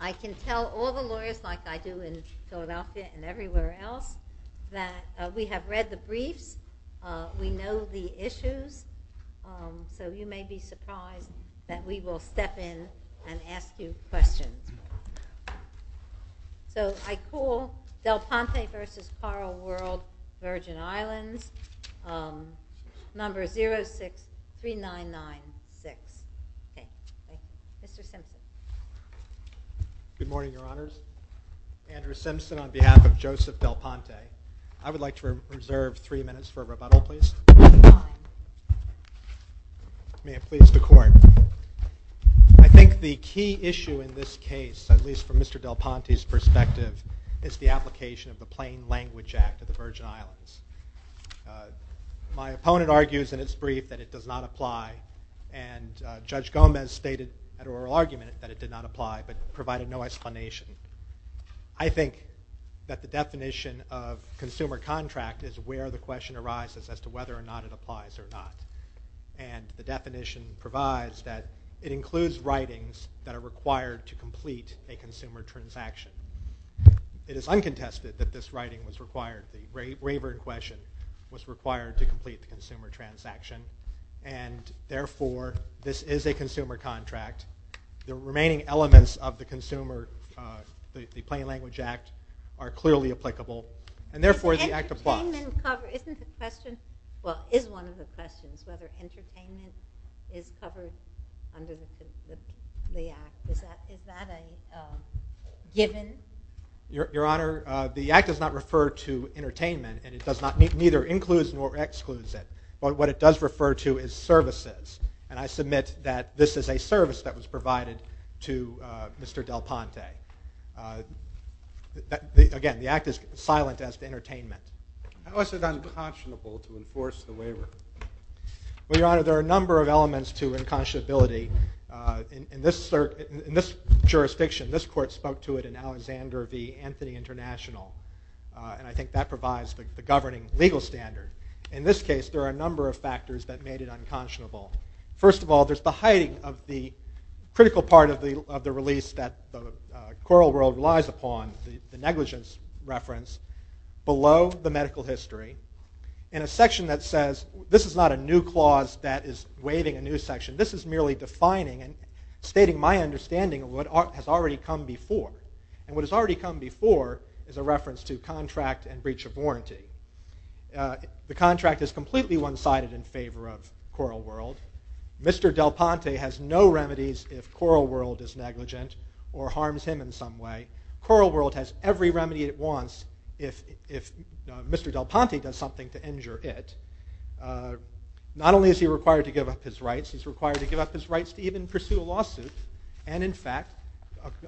I can tell all the lawyers like I do in Philadelphia and everywhere else that we have read the briefs, we know the issues, so you may be surprised that we will step in and ask you questions. So I call Delponte v. Coral World, Virgin Islands, number 063996. Mr. Simpson. Good morning, Your Honors. Andrew Simpson on behalf of Joseph Delponte. I would like to reserve three minutes for a rebuttal, please. May it please the Court. I think the key issue in this case, at least from Mr. Delponte's perspective, is the application of the Plain Language Act of the Virgin Islands. My opponent argues in his brief that it does not apply, and Judge Gomez stated an oral argument that it did not apply, but provided no explanation. I think that the definition of consumer contract is where the question arises as to whether or not it applies or not, and the definition provides that it includes writings that are required to complete a consumer transaction. It is uncontested that this writing was required, the waiver in question, was required to complete the consumer transaction, and therefore this is a consumer contract. The remaining elements of the Plain Language Act are clearly applicable, and therefore the Act applies. Isn't the question, well, is one of the questions, whether entertainment is covered under the Act? Is that a given? Your Honor, the Act does not refer to entertainment, and it neither includes nor excludes it. But what it does refer to is services, and I submit that this is a service that was provided to Mr. Delponte. Again, the Act is silent as to entertainment. How is it unconscionable to enforce the waiver? Well, Your Honor, there are a number of elements to unconscionability. In this jurisdiction, this Court spoke to it in Alexander v. Anthony International, and I think that provides the governing legal standard. In this case, there are a number of factors that made it unconscionable. First of all, there's the hiding of the critical part of the release that the coral world relies upon, the negligence reference, below the medical history in a section that says, this is not a new clause that is waiving a new section. This is merely defining and stating my understanding of what has already come before. And what has already come before is a reference to contract and breach of warranty. The contract is completely one-sided in favor of coral world. Mr. Delponte has no remedies if coral world is negligent or harms him in some way. Coral world has every remedy it wants if Mr. Delponte does something to injure it. Not only is he required to give up his rights, he's required to give up his rights to even pursue a lawsuit. And in fact,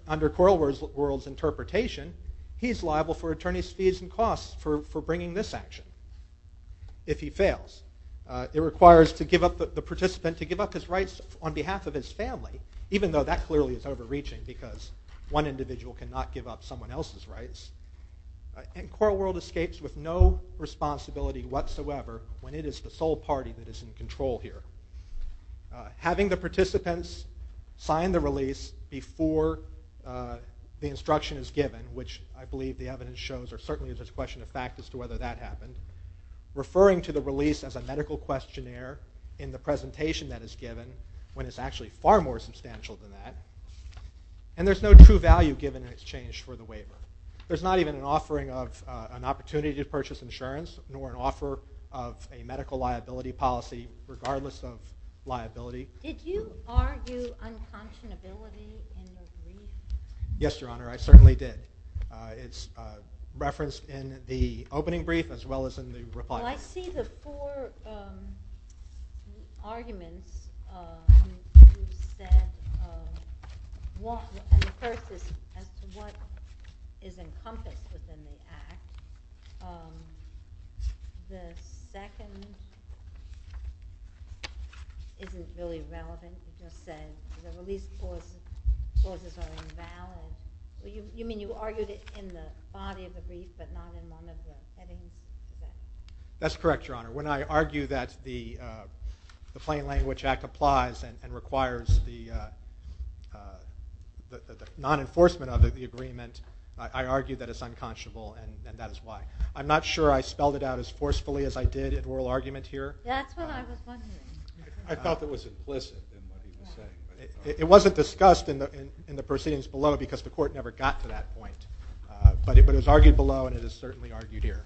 under coral world's interpretation, he's liable for attorney's fees and costs for bringing this action if he fails. It requires the participant to give up his rights on behalf of his family, even though that clearly is overreaching because one individual cannot give up someone else's rights. And coral world escapes with no responsibility whatsoever when it is the sole party that is in control here. Having the participants sign the release before the instruction is given, which I believe the evidence shows or certainly is a question of fact as to whether that happened. Referring to the release as a medical questionnaire in the presentation that is given, when it's actually far more substantial than that. And there's no true value given in exchange for the waiver. There's not even an offering of an opportunity to purchase insurance, nor an offer of a medical liability policy regardless of liability. Did you argue unconscionability in the release? Yes, Your Honor, I certainly did. It's referenced in the opening brief as well as in the reply brief. Well, I see the four arguments you've said. One, and the first is as to what is encompassed within the act. The second isn't really relevant. The release clauses are invalid. You mean you argued it in the body of the brief but not in one of the headings? That's correct, Your Honor. When I argue that the Plain Language Act applies and requires the non-enforcement of the agreement, I argue that it's unconscionable and that is why. I'm not sure I spelled it out as forcefully as I did in oral argument here. That's what I was wondering. I thought that was implicit. It wasn't discussed in the proceedings below because the court never got to that point. But it was argued below and it is certainly argued here.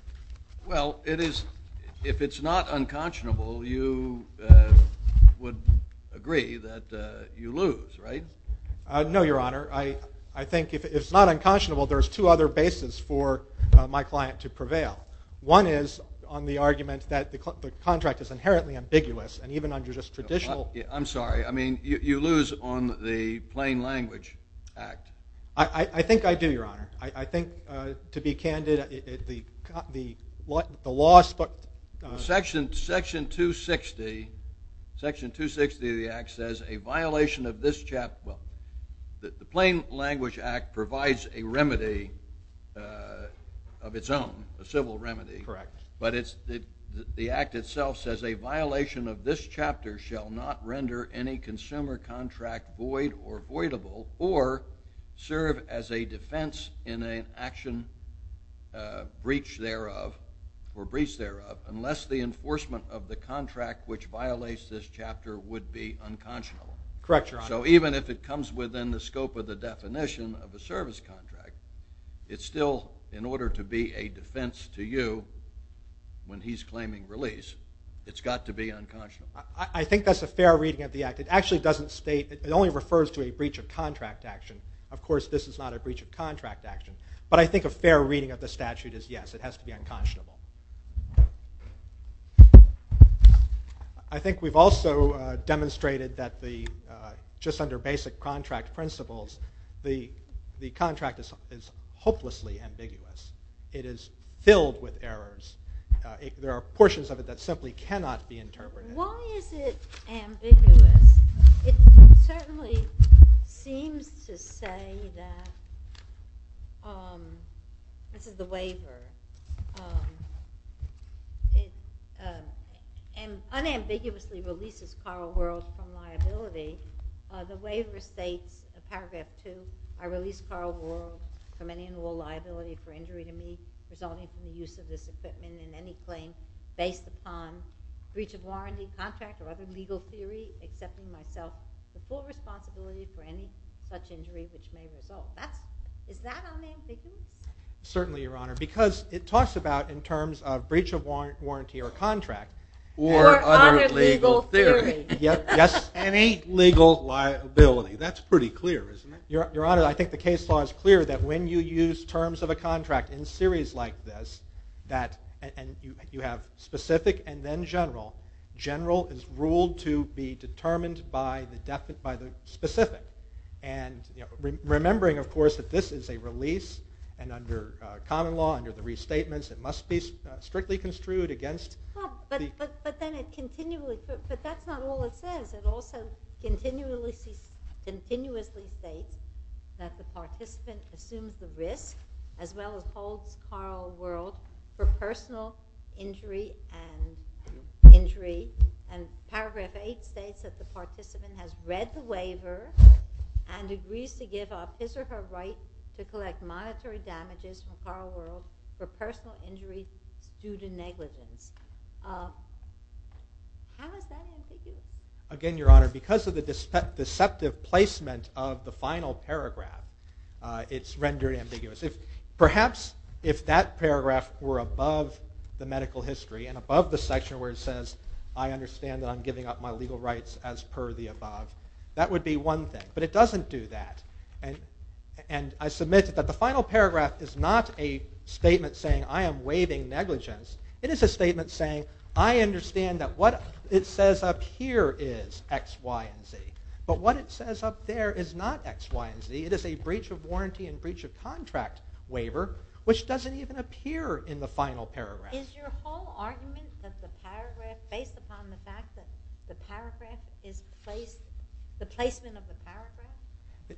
Well, if it's not unconscionable, you would agree that you lose, right? No, Your Honor. I think if it's not unconscionable, there's two other bases for my client to prevail. One is on the argument that the contract is inherently ambiguous and even under just traditional – I'm sorry. I mean you lose on the Plain Language Act. I think I do, Your Honor. I think to be candid, the law – Section 260 of the act says a violation of this – The Plain Language Act provides a remedy of its own, a civil remedy. Correct. But the act itself says a violation of this chapter shall not render any consumer contract void or voidable or serve as a defense in an action breach thereof or breach thereof unless the enforcement of the contract which violates this chapter would be unconscionable. Correct, Your Honor. So even if it comes within the scope of the definition of a service contract, it's still in order to be a defense to you when he's claiming release, it's got to be unconscionable. I think that's a fair reading of the act. It actually doesn't state – it only refers to a breach of contract action. Of course, this is not a breach of contract action. But I think a fair reading of the statute is yes, it has to be unconscionable. I think we've also demonstrated that just under basic contract principles, the contract is hopelessly ambiguous. It is filled with errors. There are portions of it that simply cannot be interpreted. Why is it ambiguous? It certainly seems to say that – this is the waiver. It unambiguously releases Carl Wuerl from liability. The waiver states, paragraph 2, I release Carl Wuerl from any and all liability for injury to me resulting from the use of this equipment in any claim based upon breach of warranty, contract, or other legal theory, excepting myself the full responsibility for any such injury which may result. Is that unambiguous? Certainly, Your Honor, because it talks about in terms of breach of warranty or contract. Or other legal theory. Yes, any legal liability. That's pretty clear, isn't it? Your Honor, I think the case law is clear that when you use terms of a contract in series like this, you have specific and then general. General is ruled to be determined by the specific. And remembering, of course, that this is a release, and under common law, under the restatements, it must be strictly construed against – But that's not all it says. It also continuously states that the participant assumes the risk, as well as holds Carl Wuerl for personal injury. And paragraph 8 states that the participant has read the waiver and agrees to give up his or her right to collect monetary damages from Carl Wuerl for personal injuries due to negligence. How is that ambiguous? Again, Your Honor, because of the deceptive placement of the final paragraph, it's rendered ambiguous. Perhaps if that paragraph were above the medical history and above the section where it says, I understand that I'm giving up my legal rights as per the above, that would be one thing. But it doesn't do that. And I submit that the final paragraph is not a statement saying, I am waiving negligence. It is a statement saying, I understand that what it says up here is X, Y, and Z. But what it says up there is not X, Y, and Z. It is a breach of warranty and breach of contract waiver, which doesn't even appear in the final paragraph. Is your whole argument that the paragraph, based upon the fact that the paragraph is placed, the placement of the paragraph?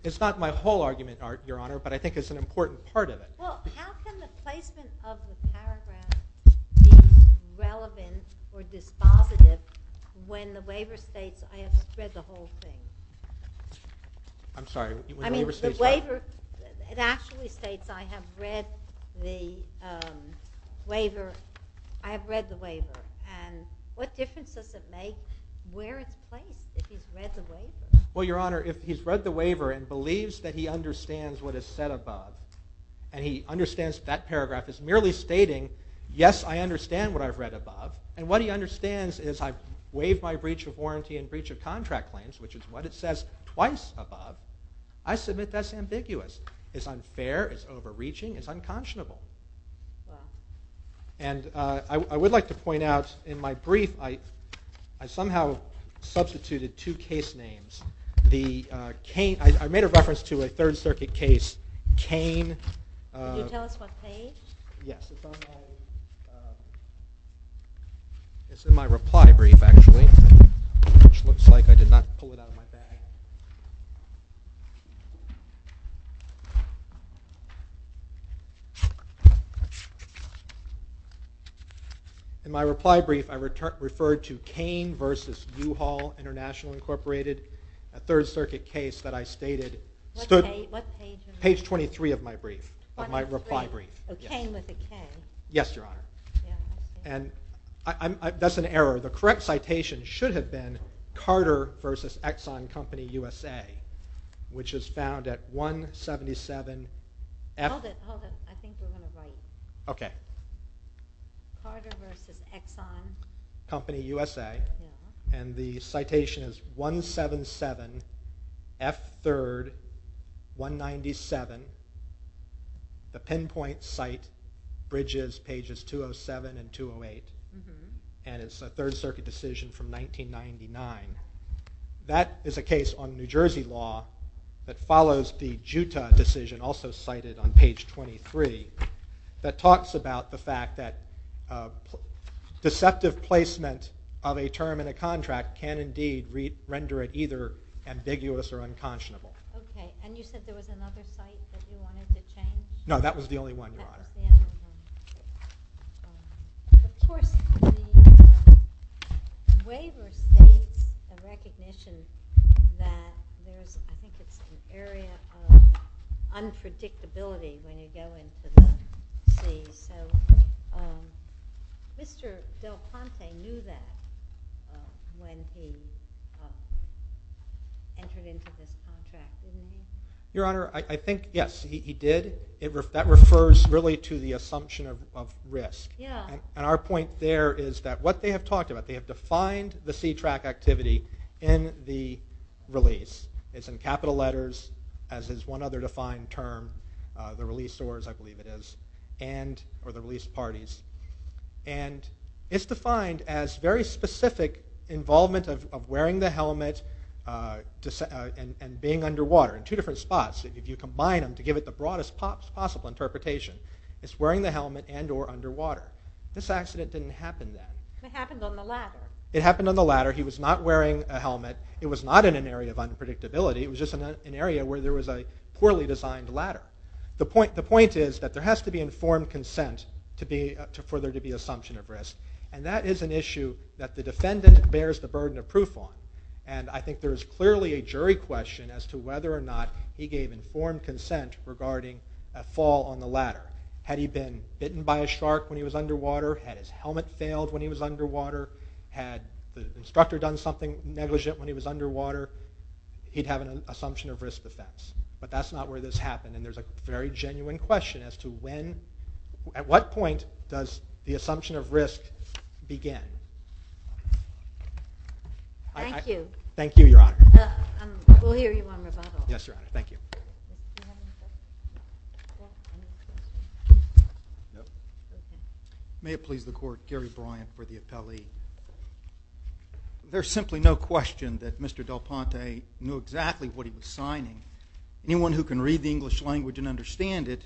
It's not my whole argument, Your Honor, but I think it's an important part of it. Well, how can the placement of the paragraph be relevant or dispositive when the waiver states I have to spread the whole thing? I'm sorry. I mean, the waiver, it actually states I have read the waiver. And what difference does it make where it's placed, if he's read the waiver? Well, Your Honor, if he's read the waiver and believes that he understands what is said above and he understands that paragraph is merely stating, yes, I understand what I've read above, and what he understands is I've waived my breach of warranty and breach of contract claims, which is what it says twice above, I submit that's ambiguous. It's unfair. It's overreaching. It's unconscionable. And I would like to point out in my brief, I somehow substituted two case names. I made a reference to a Third Circuit case, Kain. Could you tell us what page? Yes. It's in my reply brief, actually, which looks like I did not pull it out of my bag. In my reply brief, I referred to Kain v. U-Haul International Incorporated, a Third Circuit case that I stated. What page? Page 23 of my brief, of my reply brief. Oh, Kain v. Kain. Yes, Your Honor. And that's an error. The correct citation should have been Carter v. Exxon Company USA, which is found at 177 F. Hold it. I think we're going to write. Okay. Carter v. Exxon. Company USA. And the citation is 177 F. 3rd, 197. The pinpoint cite bridges pages 207 and 208, and it's a Third Circuit decision from 1999. That is a case on New Jersey law that follows the Juta decision, also cited on page 23, that talks about the fact that deceptive placement of a term in a contract can indeed render it either ambiguous or unconscionable. Okay. And you said there was another cite that you wanted to change? No, that was the only one, Your Honor. Of course, the waiver states a recognition that there's, I think it's an area of unpredictability when you go into the C. So Mr. Del Ponte knew that when he entered into this contract, didn't he? Your Honor, I think, yes, he did. That refers really to the assumption of risk. Yeah. And our point there is that what they have talked about, they have defined the C-track activity in the release. It's in capital letters, as is one other defined term, the release doors, I believe it is, or the release parties. And it's defined as very specific involvement of wearing the helmet and being underwater in two different spots. If you combine them to give it the broadest possible interpretation, it's wearing the helmet and or underwater. This accident didn't happen then. It happened on the ladder. It happened on the ladder. He was not wearing a helmet. It was not in an area of unpredictability. It was just an area where there was a poorly designed ladder. The point is that there has to be informed consent for there to be assumption of risk. And that is an issue that the defendant bears the burden of proof on. And I think there is clearly a jury question as to whether or not he gave informed consent regarding a fall on the ladder. Had he been bitten by a shark when he was underwater? Had his helmet failed when he was underwater? Had the instructor done something negligent when he was underwater? He'd have an assumption of risk defense. But that's not where this happened. And there's a very genuine question as to when, at what point, does the assumption of risk begin? Thank you. Thank you, Your Honor. We'll hear you on rebuttal. Yes, Your Honor. Thank you. May it please the Court, Gary Bryant for the appellee. There's simply no question that Mr. DelPonte knew exactly what he was signing. Anyone who can read the English language and understand it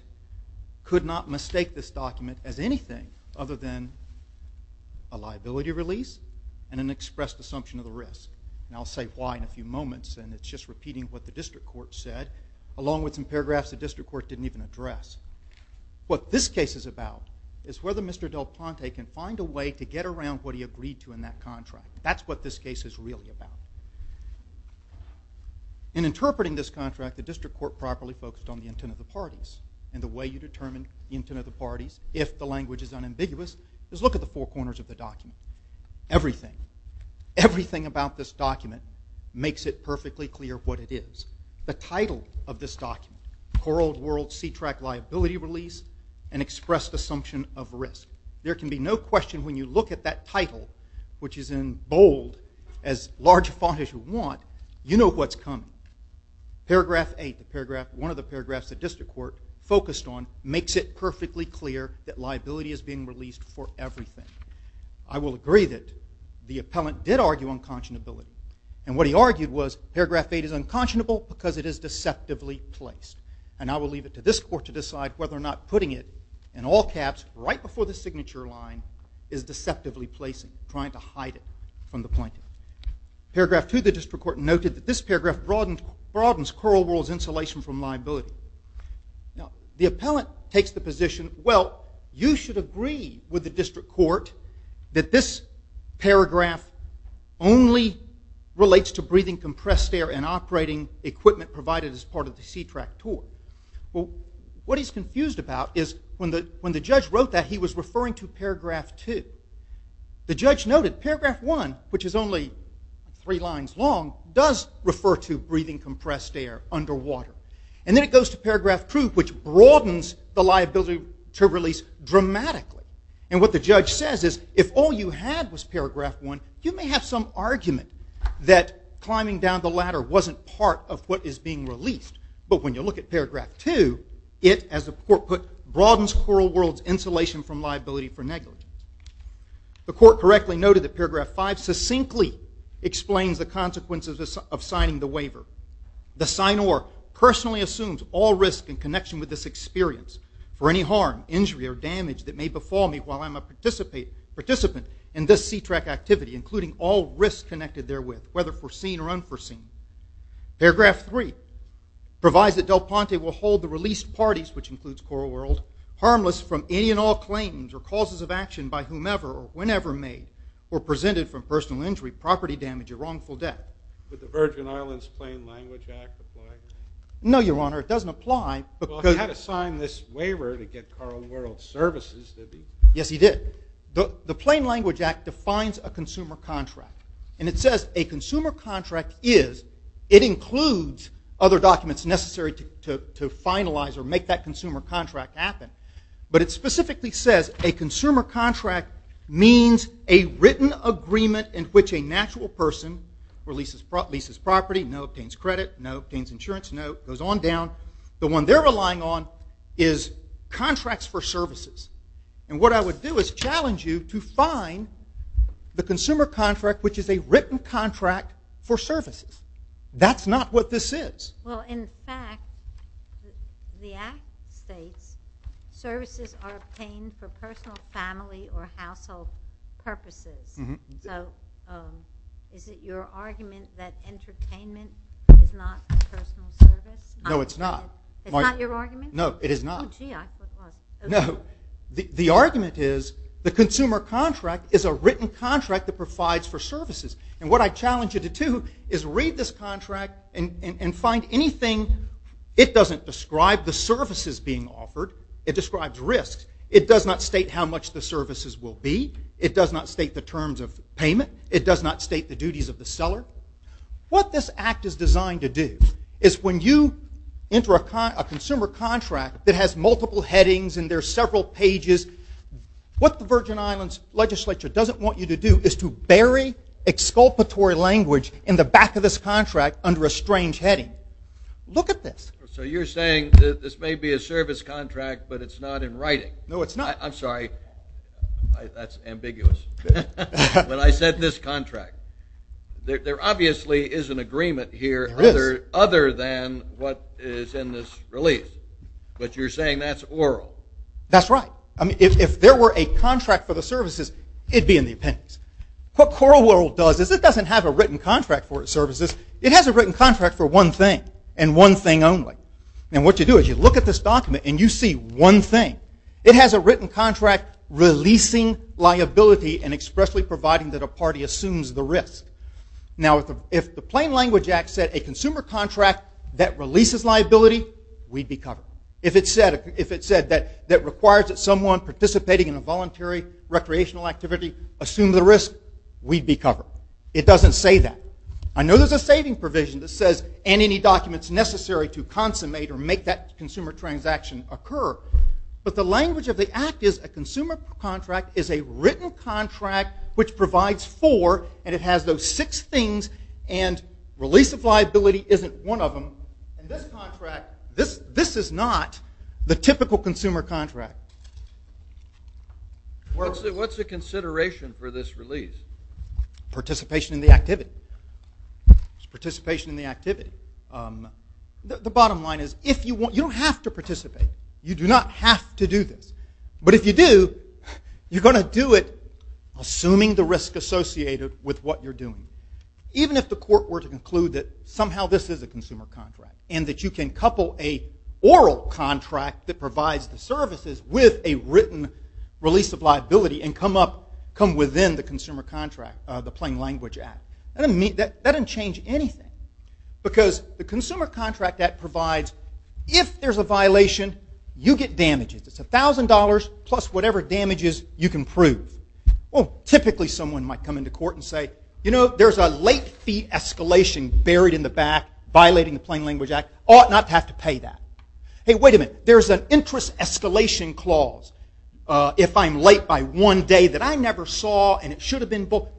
could not mistake this document as anything other than a liability release and an expressed assumption of the risk. And I'll say why in a few moments. And it's just repeating what the district court said, along with some paragraphs the district court didn't even address. What this case is about is whether Mr. DelPonte can find a way to get around what he agreed to in that contract. That's what this case is really about. In interpreting this contract, the district court properly focused on the intent of the parties. And the way you determine the intent of the parties, if the language is unambiguous, is look at the four corners of the document. Everything, everything about this document makes it perfectly clear what it is. The title of this document, Coral World Sea Track Liability Release, an Expressed Assumption of Risk. There can be no question when you look at that title, which is in bold, as large a font as you want, you know what's coming. Paragraph 8, one of the paragraphs the district court focused on, makes it perfectly clear that liability is being released for everything. I will agree that the appellant did argue unconscionability. And what he argued was paragraph 8 is unconscionable because it is deceptively placed. And I will leave it to this court to decide whether or not putting it in all caps right before the signature line is deceptively placing, trying to hide it from the plaintiff. Paragraph 2, the district court noted that this paragraph broadens Coral World's insulation from liability. Now, the appellant takes the position, well, you should agree with the district court that this paragraph only relates to breathing compressed air and operating equipment provided as part of the sea track tour. Well, what he's confused about is when the judge wrote that, he was referring to paragraph 2. The judge noted paragraph 1, which is only three lines long, does refer to breathing compressed air underwater. And then it goes to paragraph 2, which broadens the liability to release dramatically. And what the judge says is if all you had was paragraph 1, you may have some argument that climbing down the ladder wasn't part of what is being released. But when you look at paragraph 2, it, as the court put, broadens Coral World's insulation from liability for negligence. The court correctly noted that paragraph 5 succinctly explains the consequences of signing the waiver. The signor personally assumes all risk in connection with this experience for any harm, injury, or damage that may befall me while I'm a participant in this sea track activity, including all risks connected therewith, whether foreseen or unforeseen. Paragraph 3 provides that Del Ponte will hold the released parties, which includes Coral World, harmless from any and all claims or causes of action by whomever or whenever made or presented from personal injury, property damage, or wrongful death. Would the Virgin Islands Plain Language Act apply? No, Your Honor, it doesn't apply. Well, he had to sign this waiver to get Coral World services, did he? Yes, he did. The Plain Language Act defines a consumer contract. And it says a consumer contract is, it includes other documents necessary to finalize or make that consumer contract happen. But it specifically says a consumer contract means a written agreement in which a natural person releases property, no, obtains credit, no, obtains insurance, no, goes on down. The one they're relying on is contracts for services. And what I would do is challenge you to find the consumer contract, which is a written contract for services. That's not what this is. Well, in fact, the Act states services are obtained for personal, family, or household purposes. So is it your argument that entertainment is not a personal service? No, it's not. It's not your argument? No, it is not. Oh, gee. No, the argument is the consumer contract is a written contract that provides for services. And what I challenge you to do is read this contract and find anything. It doesn't describe the services being offered. It describes risks. It does not state how much the services will be. It does not state the terms of payment. It does not state the duties of the seller. What this Act is designed to do is when you enter a consumer contract that has multiple headings and there are several pages, what the Virgin Islands Legislature doesn't want you to do is to bury exculpatory language in the back of this contract under a strange heading. Look at this. So you're saying that this may be a service contract, but it's not in writing. No, it's not. I'm sorry. That's ambiguous. When I said this contract, there obviously is an agreement here other than what is in this release. But you're saying that's oral. That's right. If there were a contract for the services, it'd be in the appendix. What Coral World does is it doesn't have a written contract for its services. It has a written contract for one thing and one thing only. And what you do is you look at this document and you see one thing. It has a written contract releasing liability and expressly providing that a party assumes the risk. Now, if the Plain Language Act said a consumer contract that releases liability, we'd be covered. If it said that it requires that someone participating in a voluntary recreational activity assume the risk, we'd be covered. It doesn't say that. I know there's a saving provision that says, and any documents necessary to consummate or make that consumer transaction occur. But the language of the Act is a consumer contract is a written contract which provides four, and it has those six things, and release of liability isn't one of them. And this contract, this is not the typical consumer contract. What's the consideration for this release? Participation in the activity. It's participation in the activity. The bottom line is you don't have to participate. You do not have to do this. But if you do, you're going to do it assuming the risk associated with what you're doing, even if the court were to conclude that somehow this is a consumer contract and that you can couple an oral contract that provides the services with a written release of liability and come up, come within the consumer contract, the Plain Language Act. That doesn't change anything because the consumer contract that provides, if there's a violation, you get damages. It's $1,000 plus whatever damages you can prove. Well, typically someone might come into court and say, you know, there's a late fee escalation buried in the back violating the Plain Language Act. Ought not to have to pay that. Hey, wait a minute. There's an interest escalation clause. If I'm late by one day that I never saw and it should have been booked,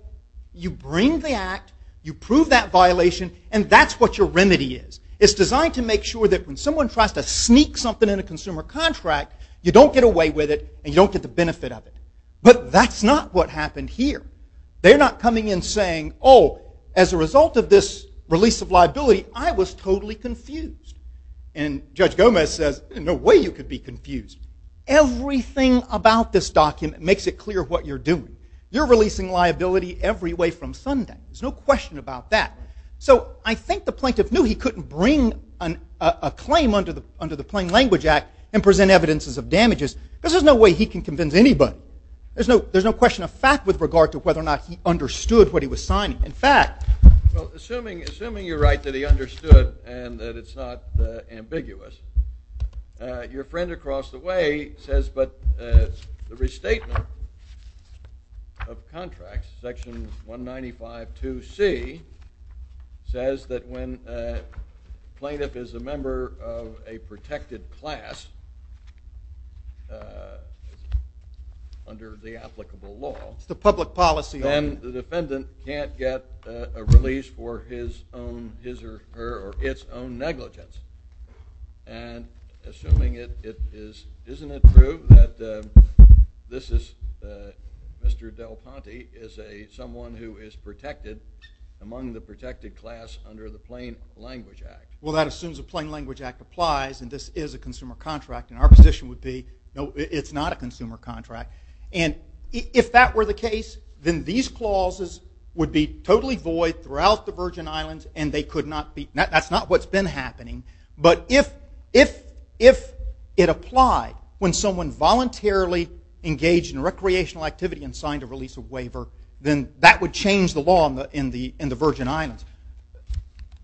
you bring the Act, you prove that violation, and that's what your remedy is. It's designed to make sure that when someone tries to sneak something in a consumer contract, you don't get away with it and you don't get the benefit of it. But that's not what happened here. They're not coming in saying, oh, as a result of this release of liability, I was totally confused. And Judge Gomez says, there's no way you could be confused. Everything about this document makes it clear what you're doing. You're releasing liability every way from Sunday. There's no question about that. So I think the plaintiff knew he couldn't bring a claim under the Plain Language Act and present evidences of damages because there's no way he can convince anybody. There's no question of fact with regard to whether or not he understood what he was signing. In fact, assuming you're right that he understood and that it's not ambiguous, your friend across the way says, but the restatement of contracts, Section 1952C, says that when a plaintiff is a member of a protected class under the applicable law, It's the public policy. then the defendant can't get a release for his own his or her or its own negligence. And assuming it is, isn't it true that this is, Mr. Del Ponte is someone who is protected among the protected class under the Plain Language Act? Well, that assumes the Plain Language Act applies and this is a consumer contract. And our position would be, no, it's not a consumer contract. And if that were the case, then these clauses would be totally void throughout the Virgin Islands and they could not be, that's not what's been happening. But if it applied when someone voluntarily engaged in recreational activity and signed a release of waiver, then that would change the law in the Virgin Islands.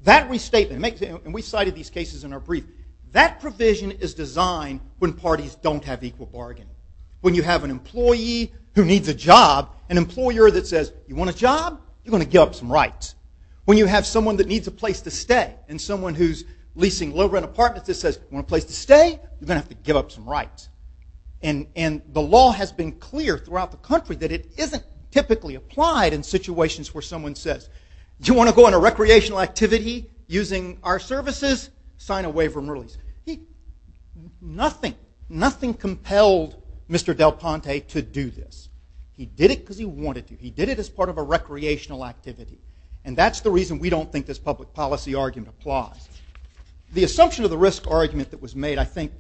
That restatement, and we cited these cases in our brief, that provision is designed when parties don't have equal bargaining. When you have an employee who needs a job, an employer that says, you want a job? You're going to give up some rights. When you have someone that needs a place to stay and someone who's leasing low-rent apartments that says, you want a place to stay? You're going to have to give up some rights. And the law has been clear throughout the country that it isn't typically applied in situations where someone says, do you want to go on a recreational activity using our services? Sign a waiver and release. Nothing, nothing compelled Mr. Del Ponte to do this. He did it because he wanted to. He did it as part of a recreational activity. And that's the reason we don't think this public policy argument applies. The assumption of the risk argument that was made, I think,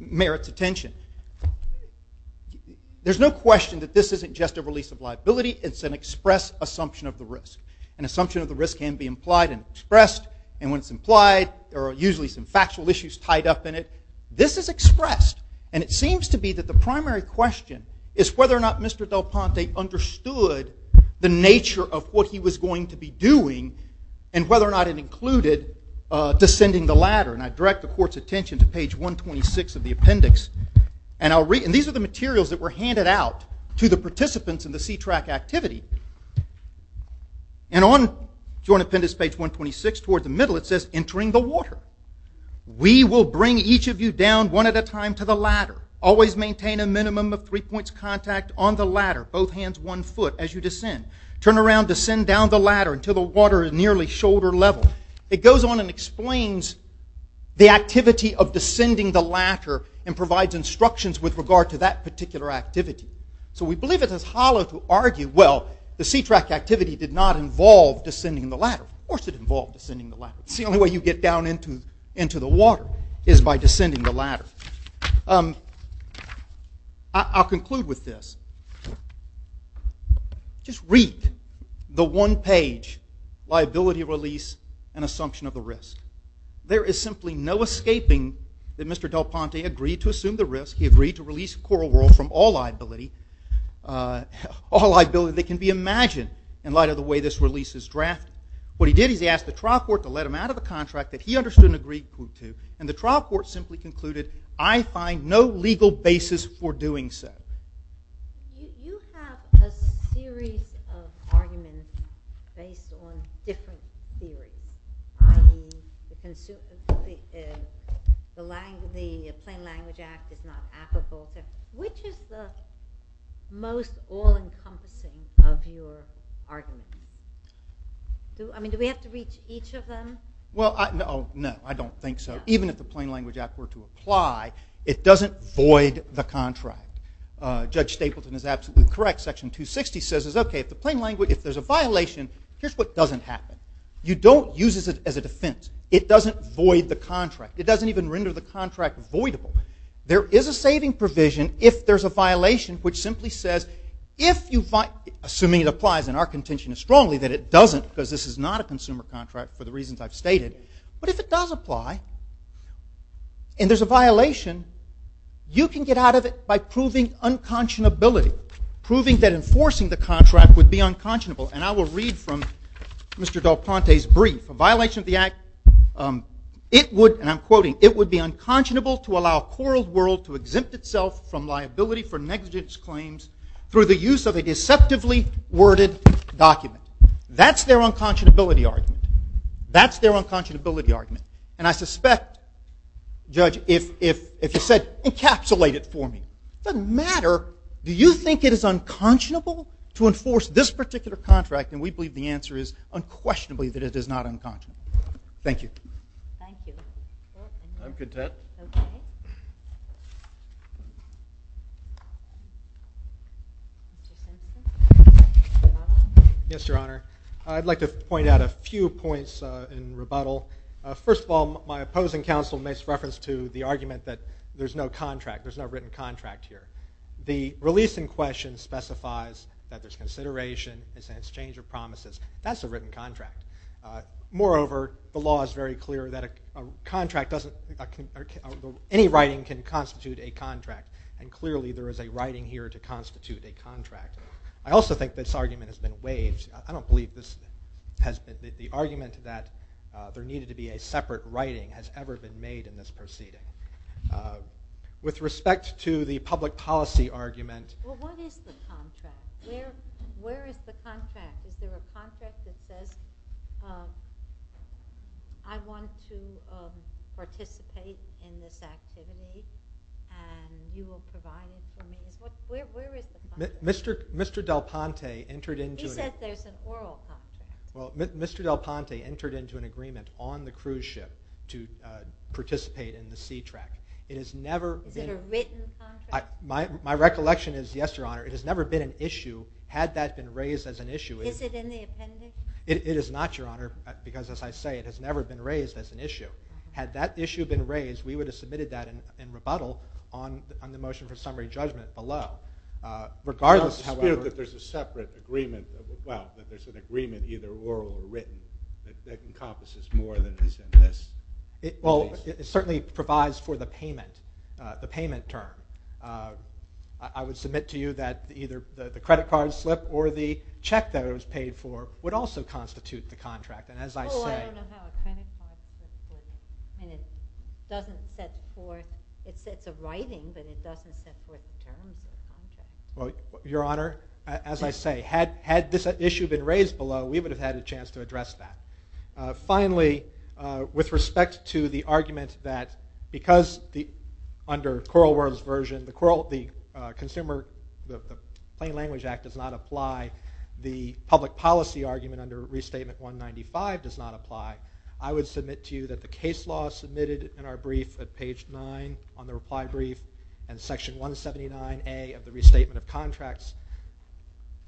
merits attention. There's no question that this isn't just a release of liability. It's an express assumption of the risk. An assumption of the risk can be implied and expressed. And when it's implied, there are usually some factual issues tied up in it. This is expressed, and it seems to be that the primary question is whether or not Mr. Del Ponte understood the nature of what he was going to be doing and whether or not it included descending the ladder. And I direct the court's attention to page 126 of the appendix. And these are the materials that were handed out to the participants in the C-TRAC activity. And on joint appendix page 126, towards the middle, it says, entering the water. We will bring each of you down one at a time to the ladder. Always maintain a minimum of three points of contact on the ladder, both hands one foot as you descend. Turn around, descend down the ladder until the water is nearly shoulder level. It goes on and explains the activity of descending the ladder and provides instructions with regard to that particular activity. So we believe it is hollow to argue, well, the C-TRAC activity did not involve descending the ladder. Of course it involved descending the ladder. It's the only way you get down into the water is by descending the ladder. I'll conclude with this. Just read the one-page liability release and assumption of the risk. There is simply no escaping that Mr. Del Ponte agreed to assume the risk. He agreed to release Coral Whirl from all liability that can be imagined in light of the way this release is drafted. What he did is he asked the trial court to let him out of the contract that he understood and agreed to, and the trial court simply concluded, I find no legal basis for doing so. You have a series of arguments based on different theories, i.e. the plain language act is not applicable. Which is the most all-encompassing of your arguments? I mean, do we have to reach each of them? Well, no, I don't think so. Even if the plain language act were to apply, it doesn't void the contract. Judge Stapleton is absolutely correct. Section 260 says, okay, if there's a violation, here's what doesn't happen. You don't use it as a defense. It doesn't void the contract. It doesn't even render the contract voidable. There is a saving provision if there's a violation which simply says, assuming it applies and our contention is strongly that it doesn't because this is not a consumer contract for the reasons I've stated, but if it does apply and there's a violation, you can get out of it by proving unconscionability, proving that enforcing the contract would be unconscionable. And I will read from Mr. Del Ponte's brief. A violation of the act, it would, and I'm quoting, it would be unconscionable to allow a quarreled world to exempt itself from liability for negligence claims through the use of a deceptively worded document. That's their unconscionability argument. That's their unconscionability argument. And I suspect, Judge, if you said encapsulate it for me, it doesn't matter. Do you think it is unconscionable to enforce this particular contract? And we believe the answer is unquestionably that it is not unconscionable. Thank you. Thank you. I'm content. Okay. Mr. Simpson. Yes, Your Honor. I'd like to point out a few points in rebuttal. First of all, my opposing counsel makes reference to the argument that there's no contract, there's no written contract here. The release in question specifies that there's consideration, it's an exchange of promises. That's a written contract. Moreover, the law is very clear that any writing can constitute a contract. And clearly there is a writing here to constitute a contract. I also think this argument has been waived. I don't believe the argument that there needed to be a separate writing has ever been made in this proceeding. With respect to the public policy argument. Where is the contract? Is there a contract that says I want to participate in this activity and you will provide it to me? Where is the contract? Mr. Del Ponte entered into an agreement on the cruise ship to participate in the sea track. Is it a written contract? My recollection is, yes, Your Honor, it has never been an issue. Is it in the appendix? It is not, Your Honor, because as I say, it has never been raised as an issue. Had that issue been raised, we would have submitted that in rebuttal on the motion for summary judgment below. Regardless, however— It's not the spirit that there's a separate agreement, well, that there's an agreement either oral or written that encompasses more than is in this. Well, it certainly provides for the payment, the payment term. I would submit to you that either the credit card slip or the check that it was paid for would also constitute the contract, and as I say— Well, I don't know how a credit card slip would, and it doesn't set forth, it's a writing, but it doesn't set forth the terms of the contract. Well, Your Honor, as I say, had this issue been raised below, we would have had a chance to address that. Finally, with respect to the argument that because under Coral World's version, the Consumer Plain Language Act does not apply, the public policy argument under Restatement 195 does not apply, I would submit to you that the case law submitted in our brief at page 9 on the reply brief and Section 179A of the Restatement of Contracts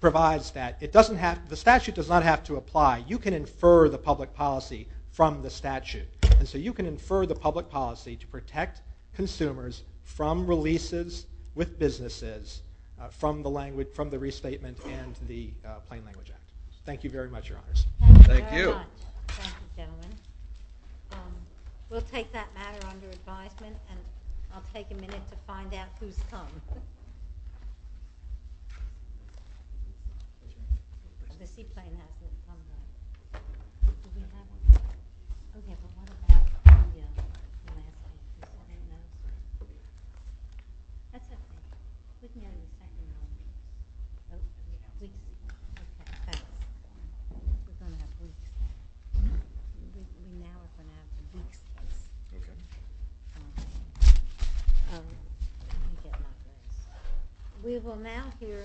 provides that it doesn't have— the statute does not have to apply. You can infer the public policy from the statute, and so you can infer the public policy to protect consumers from releases with businesses from the Restatement and the Plain Language Act. Thank you very much, Your Honors. Thank you. Thank you very much. Thank you, gentlemen. We'll take that matter under advisement, and I'll take a minute to find out who's come. Thank you. We will now hear—